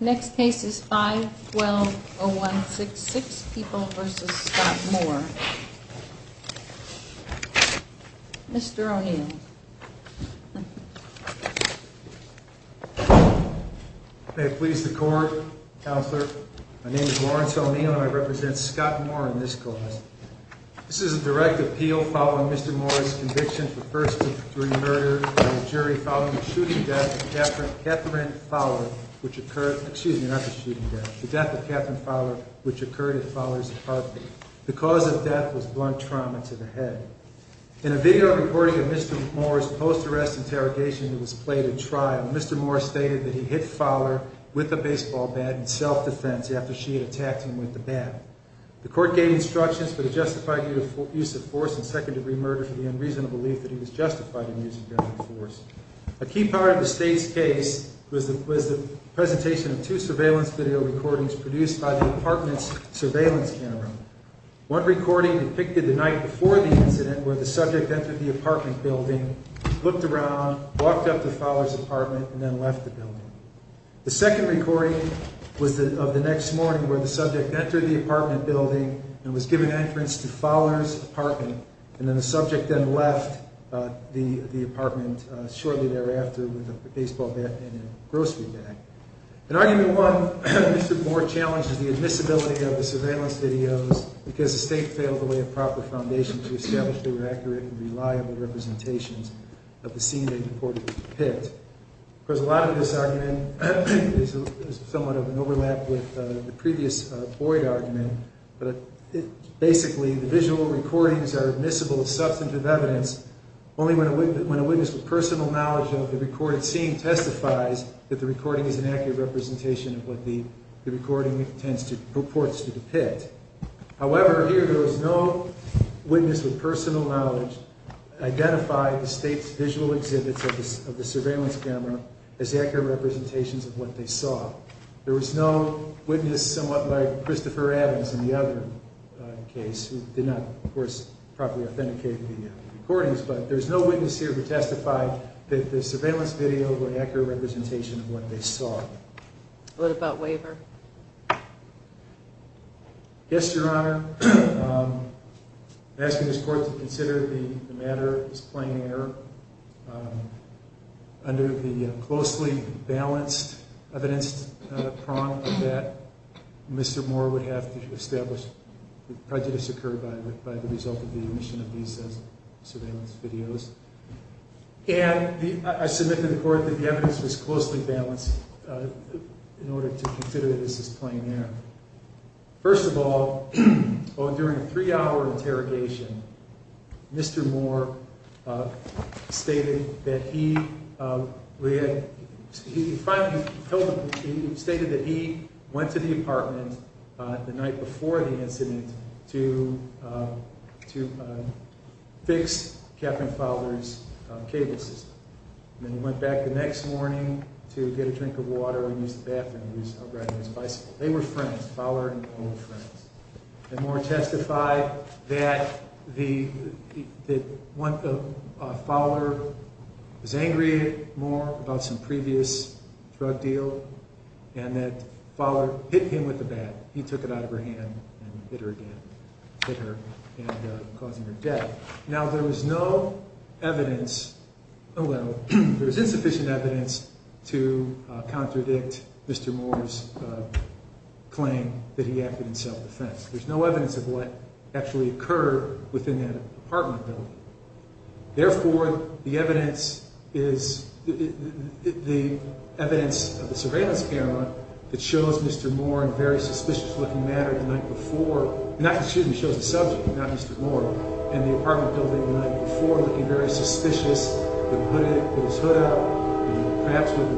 Next case is 512-0166, People v. Scott Moore. Mr. O'Neill. May it please the Court, Counselor. My name is Lawrence O'Neill and I represent Scott Moore in this case. This is a direct appeal following Mr. Moore's conviction for first degree murder by a jury following the shooting death of Catherine Fowler, which occurred at Fowler's apartment. The cause of death was blunt trauma to the head. In a video recording of Mr. Moore's post-arrest interrogation that was played at trial, Mr. Moore stated that he hit Fowler with a baseball bat in self-defense after she had attacked him with the bat. The Court gave instructions that it justified the use of force in second degree murder for the unreasonable belief that he was justified in using force. A key part of the State's case was the presentation of two surveillance video recordings produced by the apartment's surveillance camera. One recording depicted the night before the incident where the subject entered the apartment building, looked around, walked up to Fowler's apartment, and then left the building. The second recording was of the next morning where the subject entered the apartment building and was given entrance to Fowler's apartment. And then the subject then left the apartment shortly thereafter with a baseball bat and a grocery bag. In argument one, Mr. Moore challenged the admissibility of the surveillance videos because the State failed to lay a proper foundation to establish the accurate and reliable representations of the scene in the Court's pit. Of course, a lot of this argument is somewhat of an overlap with the previous Boyd argument. Basically, the visual recordings are admissible as substantive evidence only when a witness with personal knowledge of the recorded scene testifies that the recording is an accurate representation of what the recording purports to depict. However, here there was no witness with personal knowledge to identify the State's visual exhibits of the surveillance camera as accurate representations of what they saw. There was no witness somewhat like Christopher Adams in the other case, who did not, of course, properly authenticate the recordings. But there's no witness here who testified that the surveillance video were an accurate representation of what they saw. What about waiver? Yes, Your Honor. I'm asking this Court to consider the matter as plain error under the closely balanced evidence prong that Mr. Moore would have to establish that prejudice occurred by the result of the emission of these surveillance videos. I submit to the Court that the evidence was closely balanced in order to consider this as plain error. First of all, during a three-hour interrogation, Mr. Moore stated that he went to the apartment the night before the incident to fix Captain Fowler's cable system. Then he went back the next morning to get a drink of water and use the bathroom. He was out riding his bicycle. They were friends, Fowler and Moore were friends. And Moore testified that Fowler was angry more about some previous drug deal and that Fowler hit him with the bat. He took it out of her hand and hit her again, hit her, causing her death. There was insufficient evidence to contradict Mr. Moore's claim that he acted in self-defense. There's no evidence of what actually occurred within that apartment building. Therefore, the evidence of the surveillance camera that shows Mr. Moore in a very suspicious looking manner the night before, not that it shows the subject, not Mr. Moore, in the apartment building the night before, looking very suspicious, with his hood up, perhaps with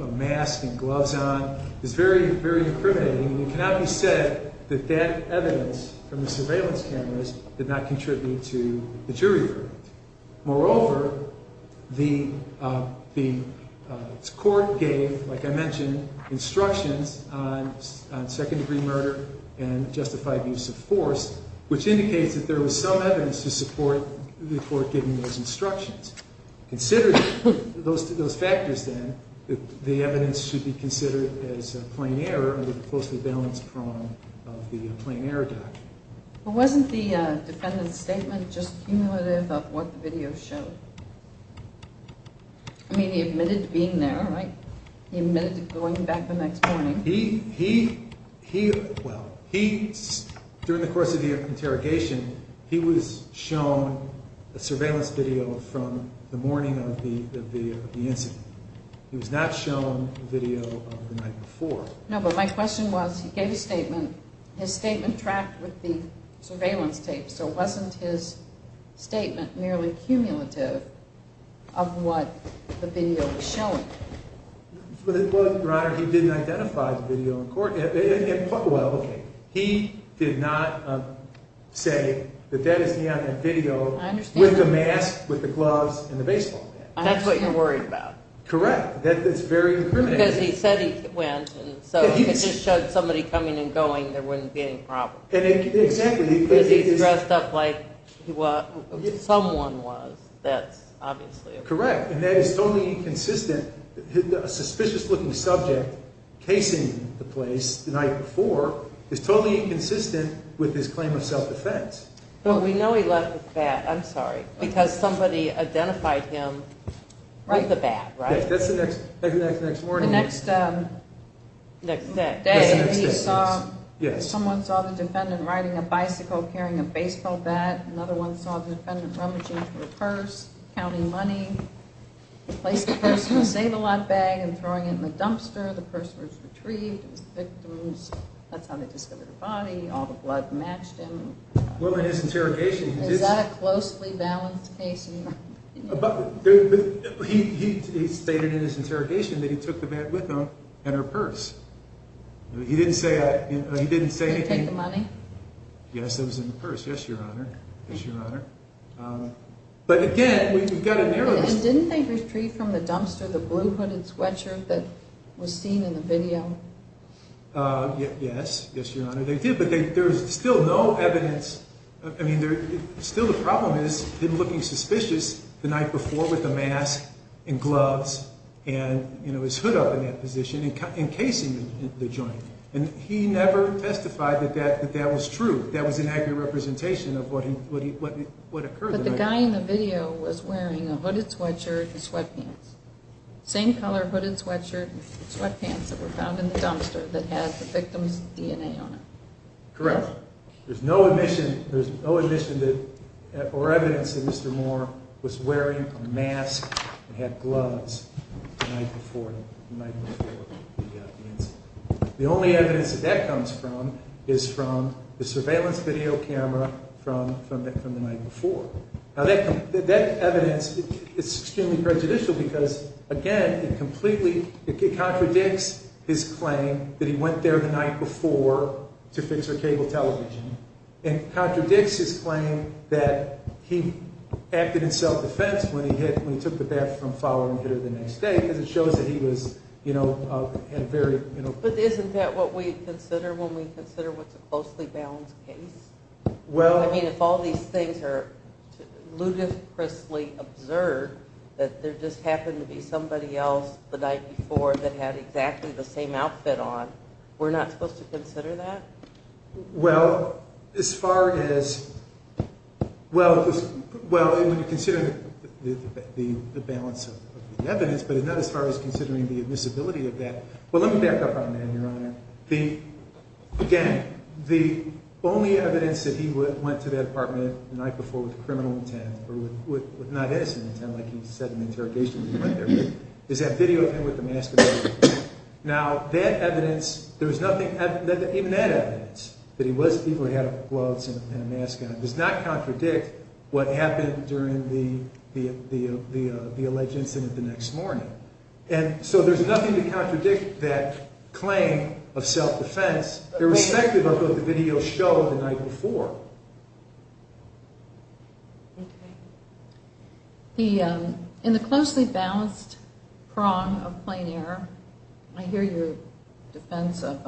a mask and gloves on, is very, very incriminating. And it cannot be said that that evidence from the surveillance cameras did not contribute to the jury verdict. Moreover, the court gave, like I mentioned, instructions on second-degree murder and justified use of force, which indicates that there was some evidence to support the court giving those instructions. Considering those factors, then, the evidence should be considered as plain error under the closely balanced prong of the plain error doctrine. But wasn't the defendant's statement just cumulative of what the video showed? I mean, he admitted to being there, right? He admitted to going back the next morning. During the course of the interrogation, he was shown a surveillance video from the morning of the incident. He was not shown the video of the night before. No, but my question was, he gave a statement, his statement tracked with the surveillance tape, so wasn't his statement merely cumulative of what the video was showing? Your Honor, he didn't identify the video in court. He did not say that that is the video with the mask, with the gloves, and the baseball cap. That's what you're worried about. Correct. That's very incriminating. Because he said he went, and so if he just showed somebody coming and going, there wouldn't be any problem. Exactly. Because he's dressed up like someone was. That's obviously a problem. Correct. And that is totally inconsistent. A suspicious-looking subject casing the place the night before is totally inconsistent with his claim of self-defense. But we know he left the bat, I'm sorry, because somebody identified him with the bat, right? That's the next morning. The next day, he saw, someone saw the defendant riding a bicycle carrying a baseball bat. Another one saw the defendant rummaging through a purse, counting money, placing the purse in a save-a-lot bag and throwing it in the dumpster. The purse was retrieved, it was the victim's, that's how they discovered the body, all the blood matched him. Well, in his interrogation, he did... Is that a closely balanced case? He stated in his interrogation that he took the bat with him and her purse. Did he take the money? Yes, it was in the purse, yes, Your Honor. But again, we've got a narrow... And didn't they retrieve from the dumpster the blue hooded sweatshirt that was seen in the video? Yes, yes, Your Honor, they did. But there's still no evidence, I mean, still the problem is him looking suspicious the night before with the mask and gloves and his hood up in that position and casing the joint. And he never testified that that was true, that was an accurate representation of what occurred. But the guy in the video was wearing a hooded sweatshirt and sweatpants, same color hooded sweatshirt and sweatpants that were found in the dumpster that had the victim's DNA on it. Correct. There's no admission or evidence that Mr. Moore was wearing a mask and had gloves the night before the incident. The only evidence that that comes from is from the surveillance video camera from the night before. Now that evidence is extremely prejudicial because, again, it completely contradicts his claim that he went there the night before to fix her cable television. And contradicts his claim that he acted in self-defense when he took the bat from Fowler and hit her the next day because it shows that he was, you know, very... But isn't that what we consider when we consider what's a closely balanced case? Well... I mean, if all these things are ludicrously observed, that there just happened to be somebody else the night before that had exactly the same outfit on, we're not supposed to consider that? Well, as far as... Well, when you consider the balance of the evidence, but not as far as considering the admissibility of that... Well, let me back up on that, Your Honor. Again, the only evidence that he went to that apartment the night before with criminal intent, or with not innocent intent like he said in the interrogation when he went there, is that video of him with the mask on. Now, that evidence... There was nothing... Even that evidence, that he was... He had gloves and a mask on, does not contradict what happened during the alleged incident the next morning. And so there's nothing to contradict that claim of self-defense irrespective of what the videos show the night before. Okay. In the closely balanced prong of plain error, I hear your defense of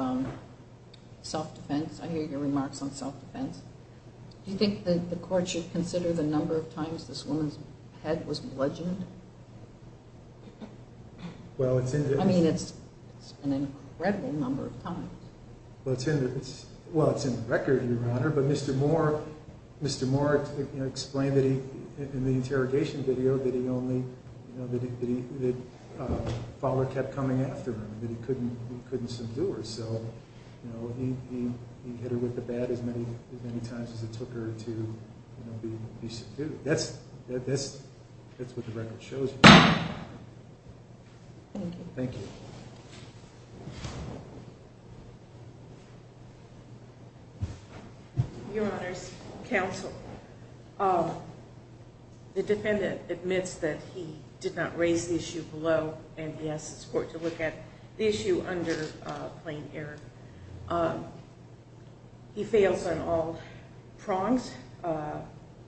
self-defense. I hear your remarks on self-defense. Do you think the court should consider the number of times this woman's head was bludgeoned? Well, it's in the... I mean, it's an incredible number of times. Well, it's in the record, Your Honor. But Mr. Moore explained in the interrogation video that he only... That Fowler kept coming after him, that he couldn't subdue her. So he hit her with the bat as many times as it took her to be subdued. That's what the record shows. Thank you. Thank you. Your Honors, counsel, the defendant admits that he did not raise the issue below, and he asks his court to look at the issue under plain error. He fails on all prongs.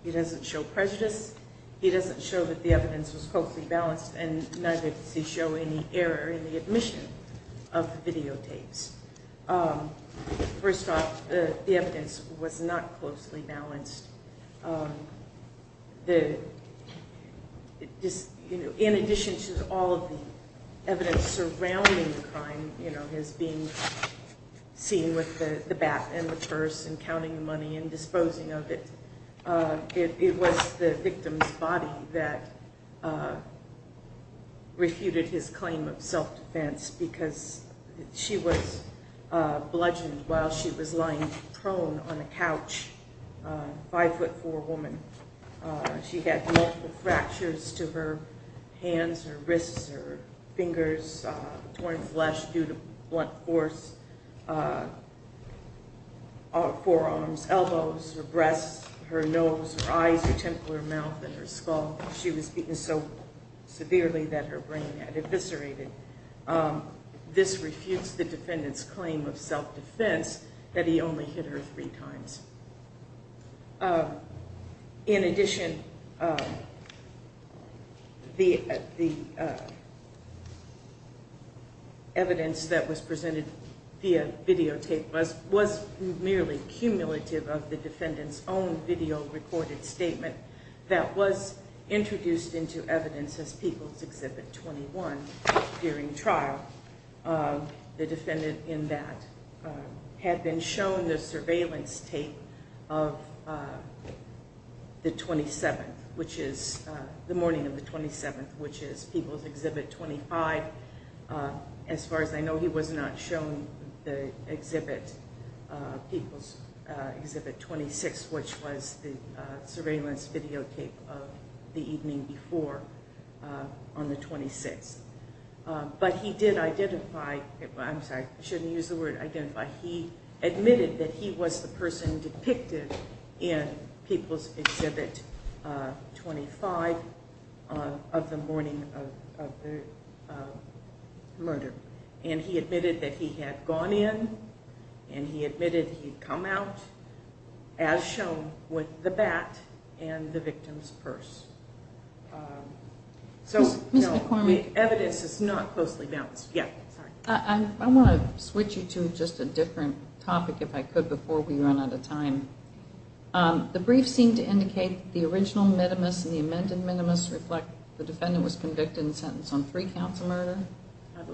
He doesn't show prejudice. He doesn't show that the evidence was closely balanced, and neither does he show any error in the admission of the videotapes. First off, the evidence was not closely balanced. In addition to all of the evidence surrounding the crime, as being seen with the bat and the purse and counting the money and disposing of it, it was the victim's body that refuted his claim of self-defense because she was bludgeoned while she was lying prone on a couch, a 5'4 woman. She had multiple fractures to her hands, her wrists, her fingers, torn flesh due to blunt force, forearms, elbows, her breasts, her nose, her eyes, her temple, her mouth, and her skull. She was beaten so severely that her brain had eviscerated. This refutes the defendant's claim of self-defense that he only hit her three times. In addition, the evidence that was presented via videotape was merely cumulative of the defendant's own video-recorded statement that was introduced into evidence as People's Exhibit 21 during trial. The defendant in that had been shown the surveillance tape of the morning of the 27th, which is People's Exhibit 25. As far as I know, he was not shown People's Exhibit 26, which was the surveillance videotape of the evening before on the 26th. But he did identify, I'm sorry, I shouldn't use the word identify, he admitted that he was the person depicted in People's Exhibit 25 of the morning of the murder. And he admitted that he had gone in, and he admitted he had come out, as shown with the bat and the victim's purse. So the evidence is not closely balanced. I want to switch you to just a different topic, if I could, before we run out of time. The brief seemed to indicate that the original minimus and the amended minimus reflect the defendant was convicted and sentenced on three counts of murder.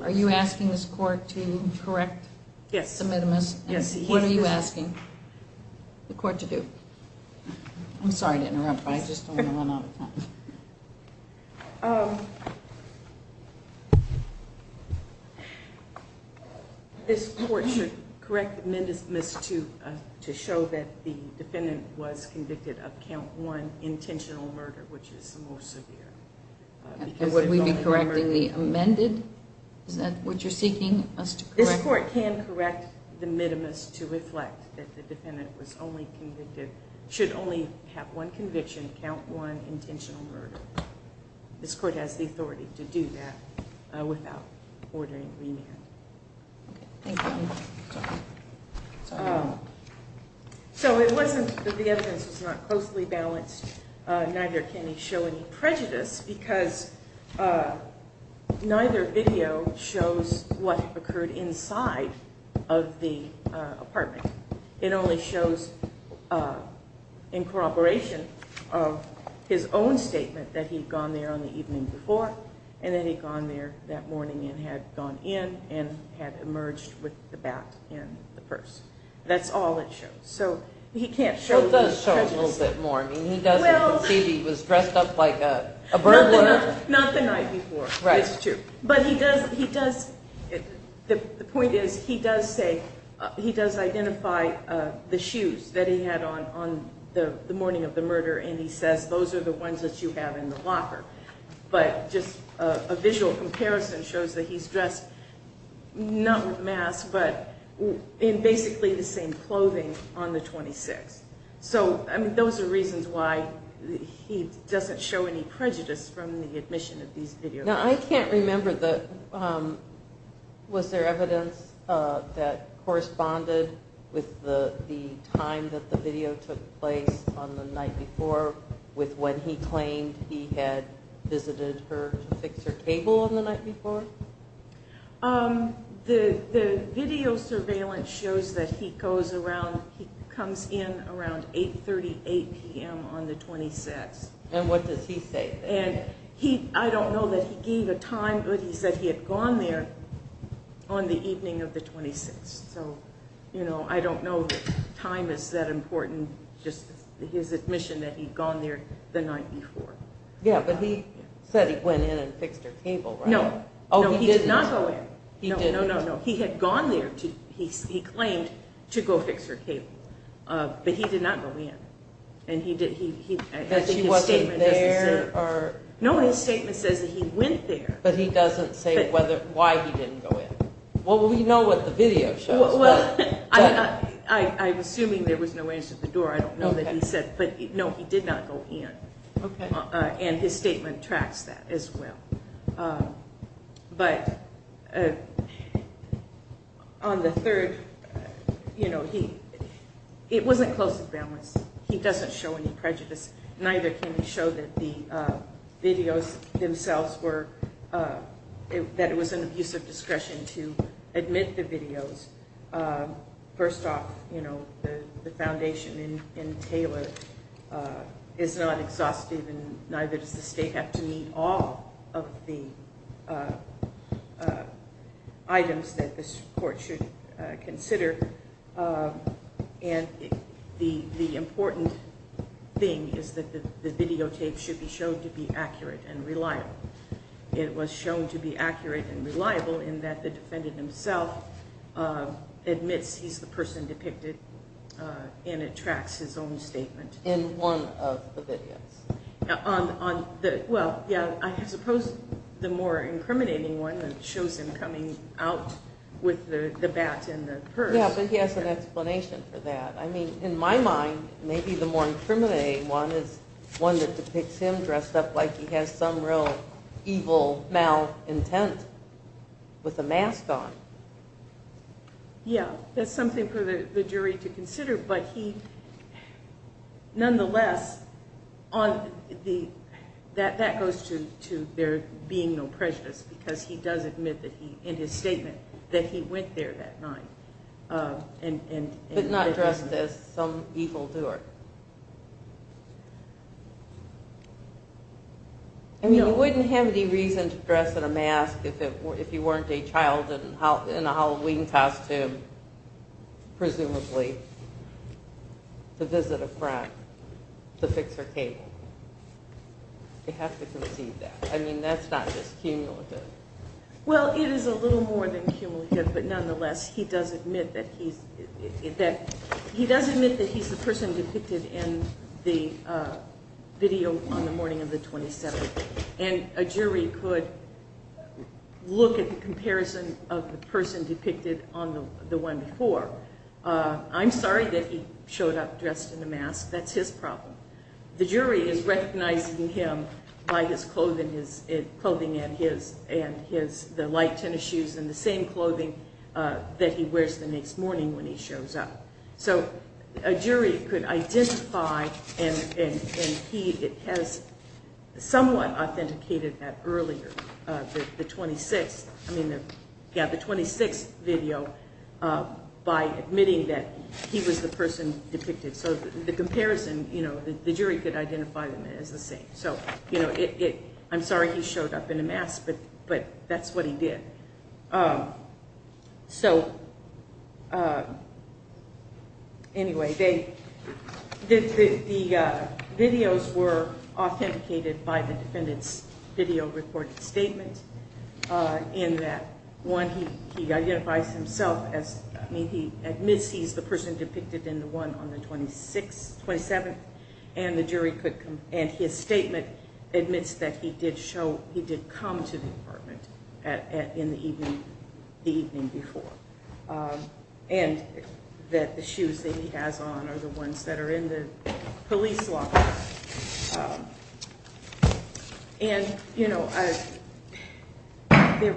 Are you asking this court to correct the minimus? Yes. What are you asking the court to do? I'm sorry to interrupt, but I just don't want to run out of time. This court should correct the minimus to show that the defendant was convicted of count one intentional murder, which is the most severe. Would we be correcting the amended? Is that what you're seeking us to correct? This court can correct the minimus to reflect that the defendant was only convicted, should only have one conviction, count one intentional murder. This court has the authority to do that without ordering remand. Thank you. So it wasn't that the evidence was not closely balanced, neither can he show any prejudice, because neither video shows what occurred inside of the apartment. It only shows, in corroboration of his own statement, that he'd gone there on the evening before, and that he'd gone there that morning and had gone in and had emerged with the bat and the purse. That's all it shows. It does show a little bit more. He was dressed up like a burglar. Not the night before. But the point is he does identify the shoes that he had on the morning of the murder, and he says, those are the ones that you have in the locker. But just a visual comparison shows that he's dressed not with a mask, but in basically the same clothing on the 26th. So, I mean, those are reasons why he doesn't show any prejudice from the admission of these videos. Now, I can't remember, was there evidence that corresponded with the time that the video took place on the night before, with when he claimed he had visited her to fix her cable on the night before? The video surveillance shows that he comes in around 8.38 p.m. on the 26th. And what does he say? I don't know that he gave a time, but he said he had gone there on the evening of the 26th. So, you know, I don't know that time is that important, just his admission that he'd gone there the night before. Yeah, but he said he went in and fixed her cable, right? No, no, he did not go in. He didn't? No, no, no, he had gone there. He claimed to go fix her cable, but he did not go in. That he wasn't there? No, his statement says that he went there. But he doesn't say why he didn't go in. Well, we know what the video shows. Well, I'm assuming there was no answer at the door. I don't know that he said, but no, he did not go in. And his statement tracks that as well. But on the third, you know, it wasn't close to balance. He doesn't show any prejudice. Neither can he show that the videos themselves were, that it was an abuse of discretion to admit the videos. First off, you know, the foundation in Taylor is not exhaustive, and neither does the state have to meet all of the items that this court should consider. And the important thing is that the videotapes should be shown to be accurate and reliable. It was shown to be accurate and reliable in that the defendant himself admits he's the person depicted, and it tracks his own statement. In one of the videos. Well, yeah, I suppose the more incriminating one, it shows him coming out with the bat and the purse. Yeah, but he has an explanation for that. I mean, in my mind, maybe the more incriminating one is one that depicts him dressed up like he has some real evil mal intent with a mask on. Yeah, that's something for the jury to consider. But he nonetheless, that goes to there being no prejudice, because he does admit in his statement that he went there that night. But not dressed as some evil doer. I mean, you wouldn't have any reason to dress in a mask if you weren't a child in a Halloween costume, presumably, to visit a friend to fix her cable. You have to concede that. I mean, that's not just cumulative. Well, it is a little more than cumulative, but nonetheless, he does admit that he's the person depicted in the video on the morning of the 27th. And a jury could look at the comparison of the person depicted on the one before. I'm sorry that he showed up dressed in a mask. That's his problem. The jury is recognizing him by his clothing and the light tennis shoes and the same clothing that he wears the next morning when he shows up. So a jury could identify, and he has somewhat authenticated that earlier, the 26th video by admitting that he was the person depicted. So the comparison, the jury could identify them as the same. I'm sorry he showed up in a mask, but that's what he did. Anyway, the videos were authenticated by the defendant's video recording statement in that, one, he identifies himself as, I mean, he admits he's the person depicted in the one on the 27th, and his statement admits that he did come to the apartment the evening before and that the shoes that he has on are the ones that are in the police locker. For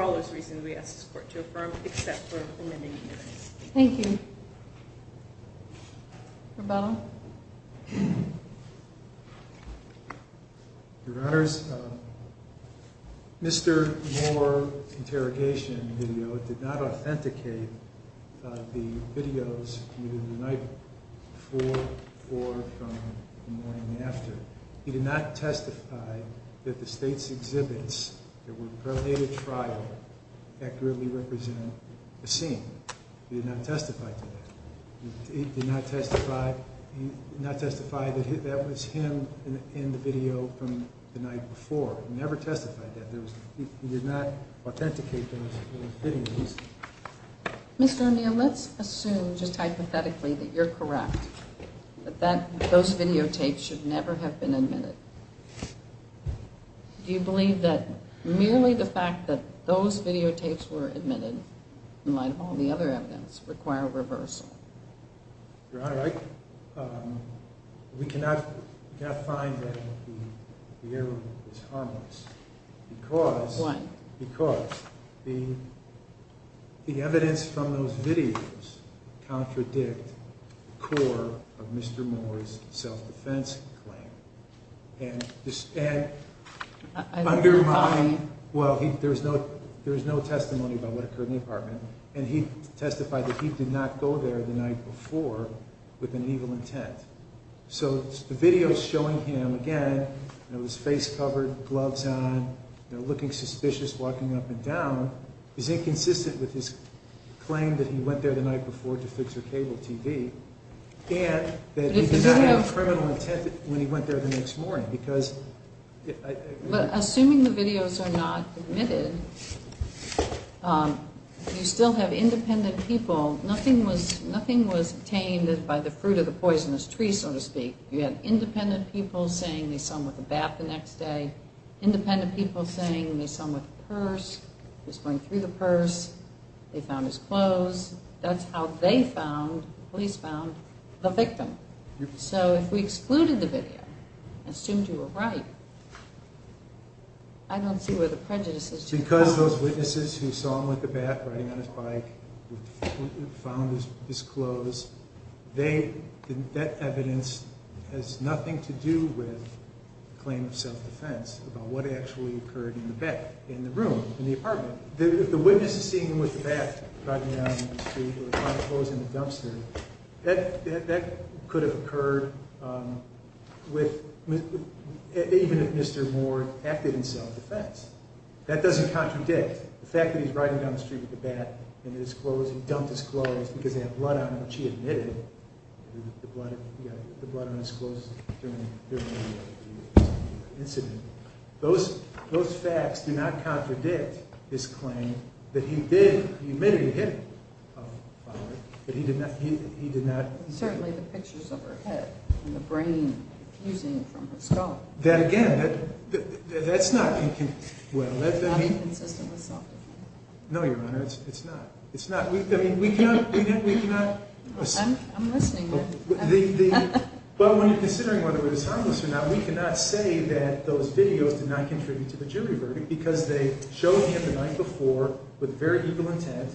all those reasons, we ask this court to affirm, except for amending the evidence. Thank you. Rebuttal. Your Honors, Mr. Moore's interrogation video did not authenticate the videos either the night before or from the morning after. He did not testify that the state's exhibits that were prelated trial accurately represent the scene. He did not testify to that. He did not testify that that was him in the video from the night before. He never testified that. He did not authenticate those videos. Mr. O'Neill, let's assume, just hypothetically, that you're correct, that those videotapes should never have been admitted. Do you believe that merely the fact that those videotapes were admitted, in light of all the other evidence, require reversal? Your Honor, I cannot find that the error is harmless. Why? Because the evidence from those videos contradict the core of Mr. Moore's self-defense claim. And undermine, well, there's no testimony about what occurred in the apartment. And he testified that he did not go there the night before with an evil intent. So the videos showing him, again, with his face covered, gloves on, looking suspicious, walking up and down, is inconsistent with his claim that he went there the night before to fix her cable TV. And that he did not have a criminal intent when he went there the next morning. Assuming the videos are not admitted, you still have independent people. Nothing was obtained by the fruit of the poisonous tree, so to speak. You had independent people saying they saw him with a bat the next day. Independent people saying they saw him with a purse. He was going through the purse. They found his clothes. That's how they found, the police found, the victim. So if we excluded the video, assumed you were right, I don't see where the prejudice is. Because those witnesses who saw him with a bat riding on his bike, who found his clothes, that evidence has nothing to do with the claim of self-defense about what actually occurred in the room, in the apartment. If the witness is seeing him with a bat riding down the street, who found his clothes in the dumpster, that could have occurred even if Mr. Moore acted in self-defense. That doesn't contradict the fact that he's riding down the street with a bat and his clothes, he dumped his clothes because they had blood on them, which he admitted. The blood on his clothes during the incident. Those facts do not contradict his claim that he did, he admitted he hit him with a bat, but he did not. Certainly the pictures of her head and the brain fusing from her skull. That again, that's not inconsistent. Not inconsistent with self-defense. No, Your Honor, it's not. I mean, we cannot. I'm listening. But when you're considering whether it was harmless or not, we cannot say that those videos did not contribute to the jury verdict because they showed him the night before with very evil intent,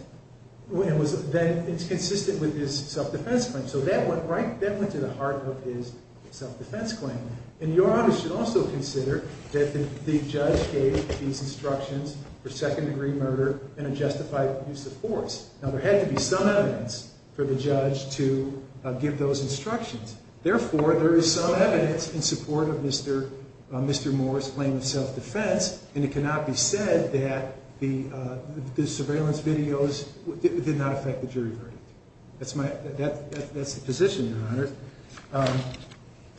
and it's consistent with his self-defense claim. So that went to the heart of his self-defense claim. And Your Honor should also consider that the judge gave these instructions for second-degree murder and a justified use of force. Now, there had to be some evidence for the judge to give those instructions. Therefore, there is some evidence in support of Mr. Moore's claim of self-defense, and it cannot be said that the surveillance videos did not affect the jury verdict.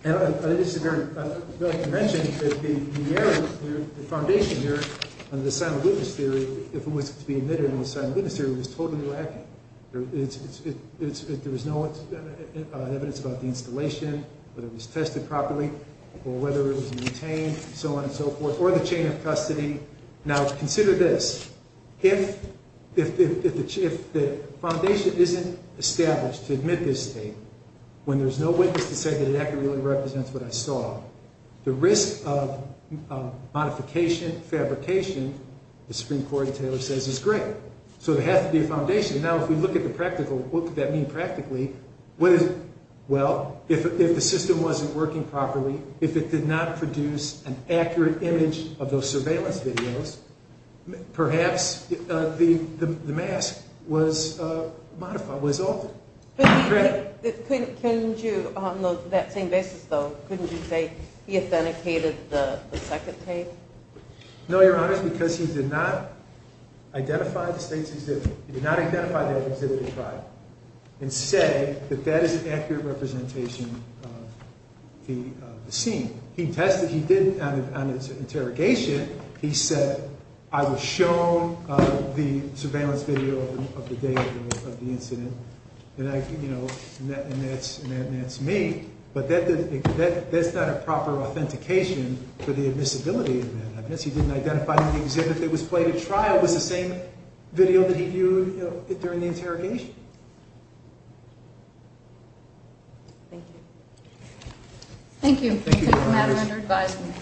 And I'd like to mention that the foundation here under the sign-of-witness theory, if it was to be admitted under the sign-of-witness theory, was totally lacking. There was no evidence about the installation, whether it was tested properly, or whether it was maintained, and so on and so forth, or the chain of custody. Now, consider this. If the foundation isn't established to admit this state, when there's no witness to say that it accurately represents what I saw, the risk of modification, fabrication, as Supreme Court Taylor says, is great. So there has to be a foundation. Now, if we look at the practical, what could that mean practically? Well, if the system wasn't working properly, if it did not produce an accurate image of those surveillance videos, perhaps the mask was modified, was altered. But couldn't you, on that same basis, though, couldn't you say he authenticated the second tape? No, Your Honor, because he did not identify the state's exhibit. He did not identify the exhibit at trial, and say that that is an accurate representation of the scene. He tested. He did, on his interrogation, he said, I was shown the surveillance video of the day of the incident, and that's me. But that's not a proper authentication for the admissibility of that. I guess he didn't identify that the exhibit that was played at trial was the same video that he viewed during the interrogation. Thank you. Thank you. Thank you, Your Honor. Thank you for taking the matter under advisement.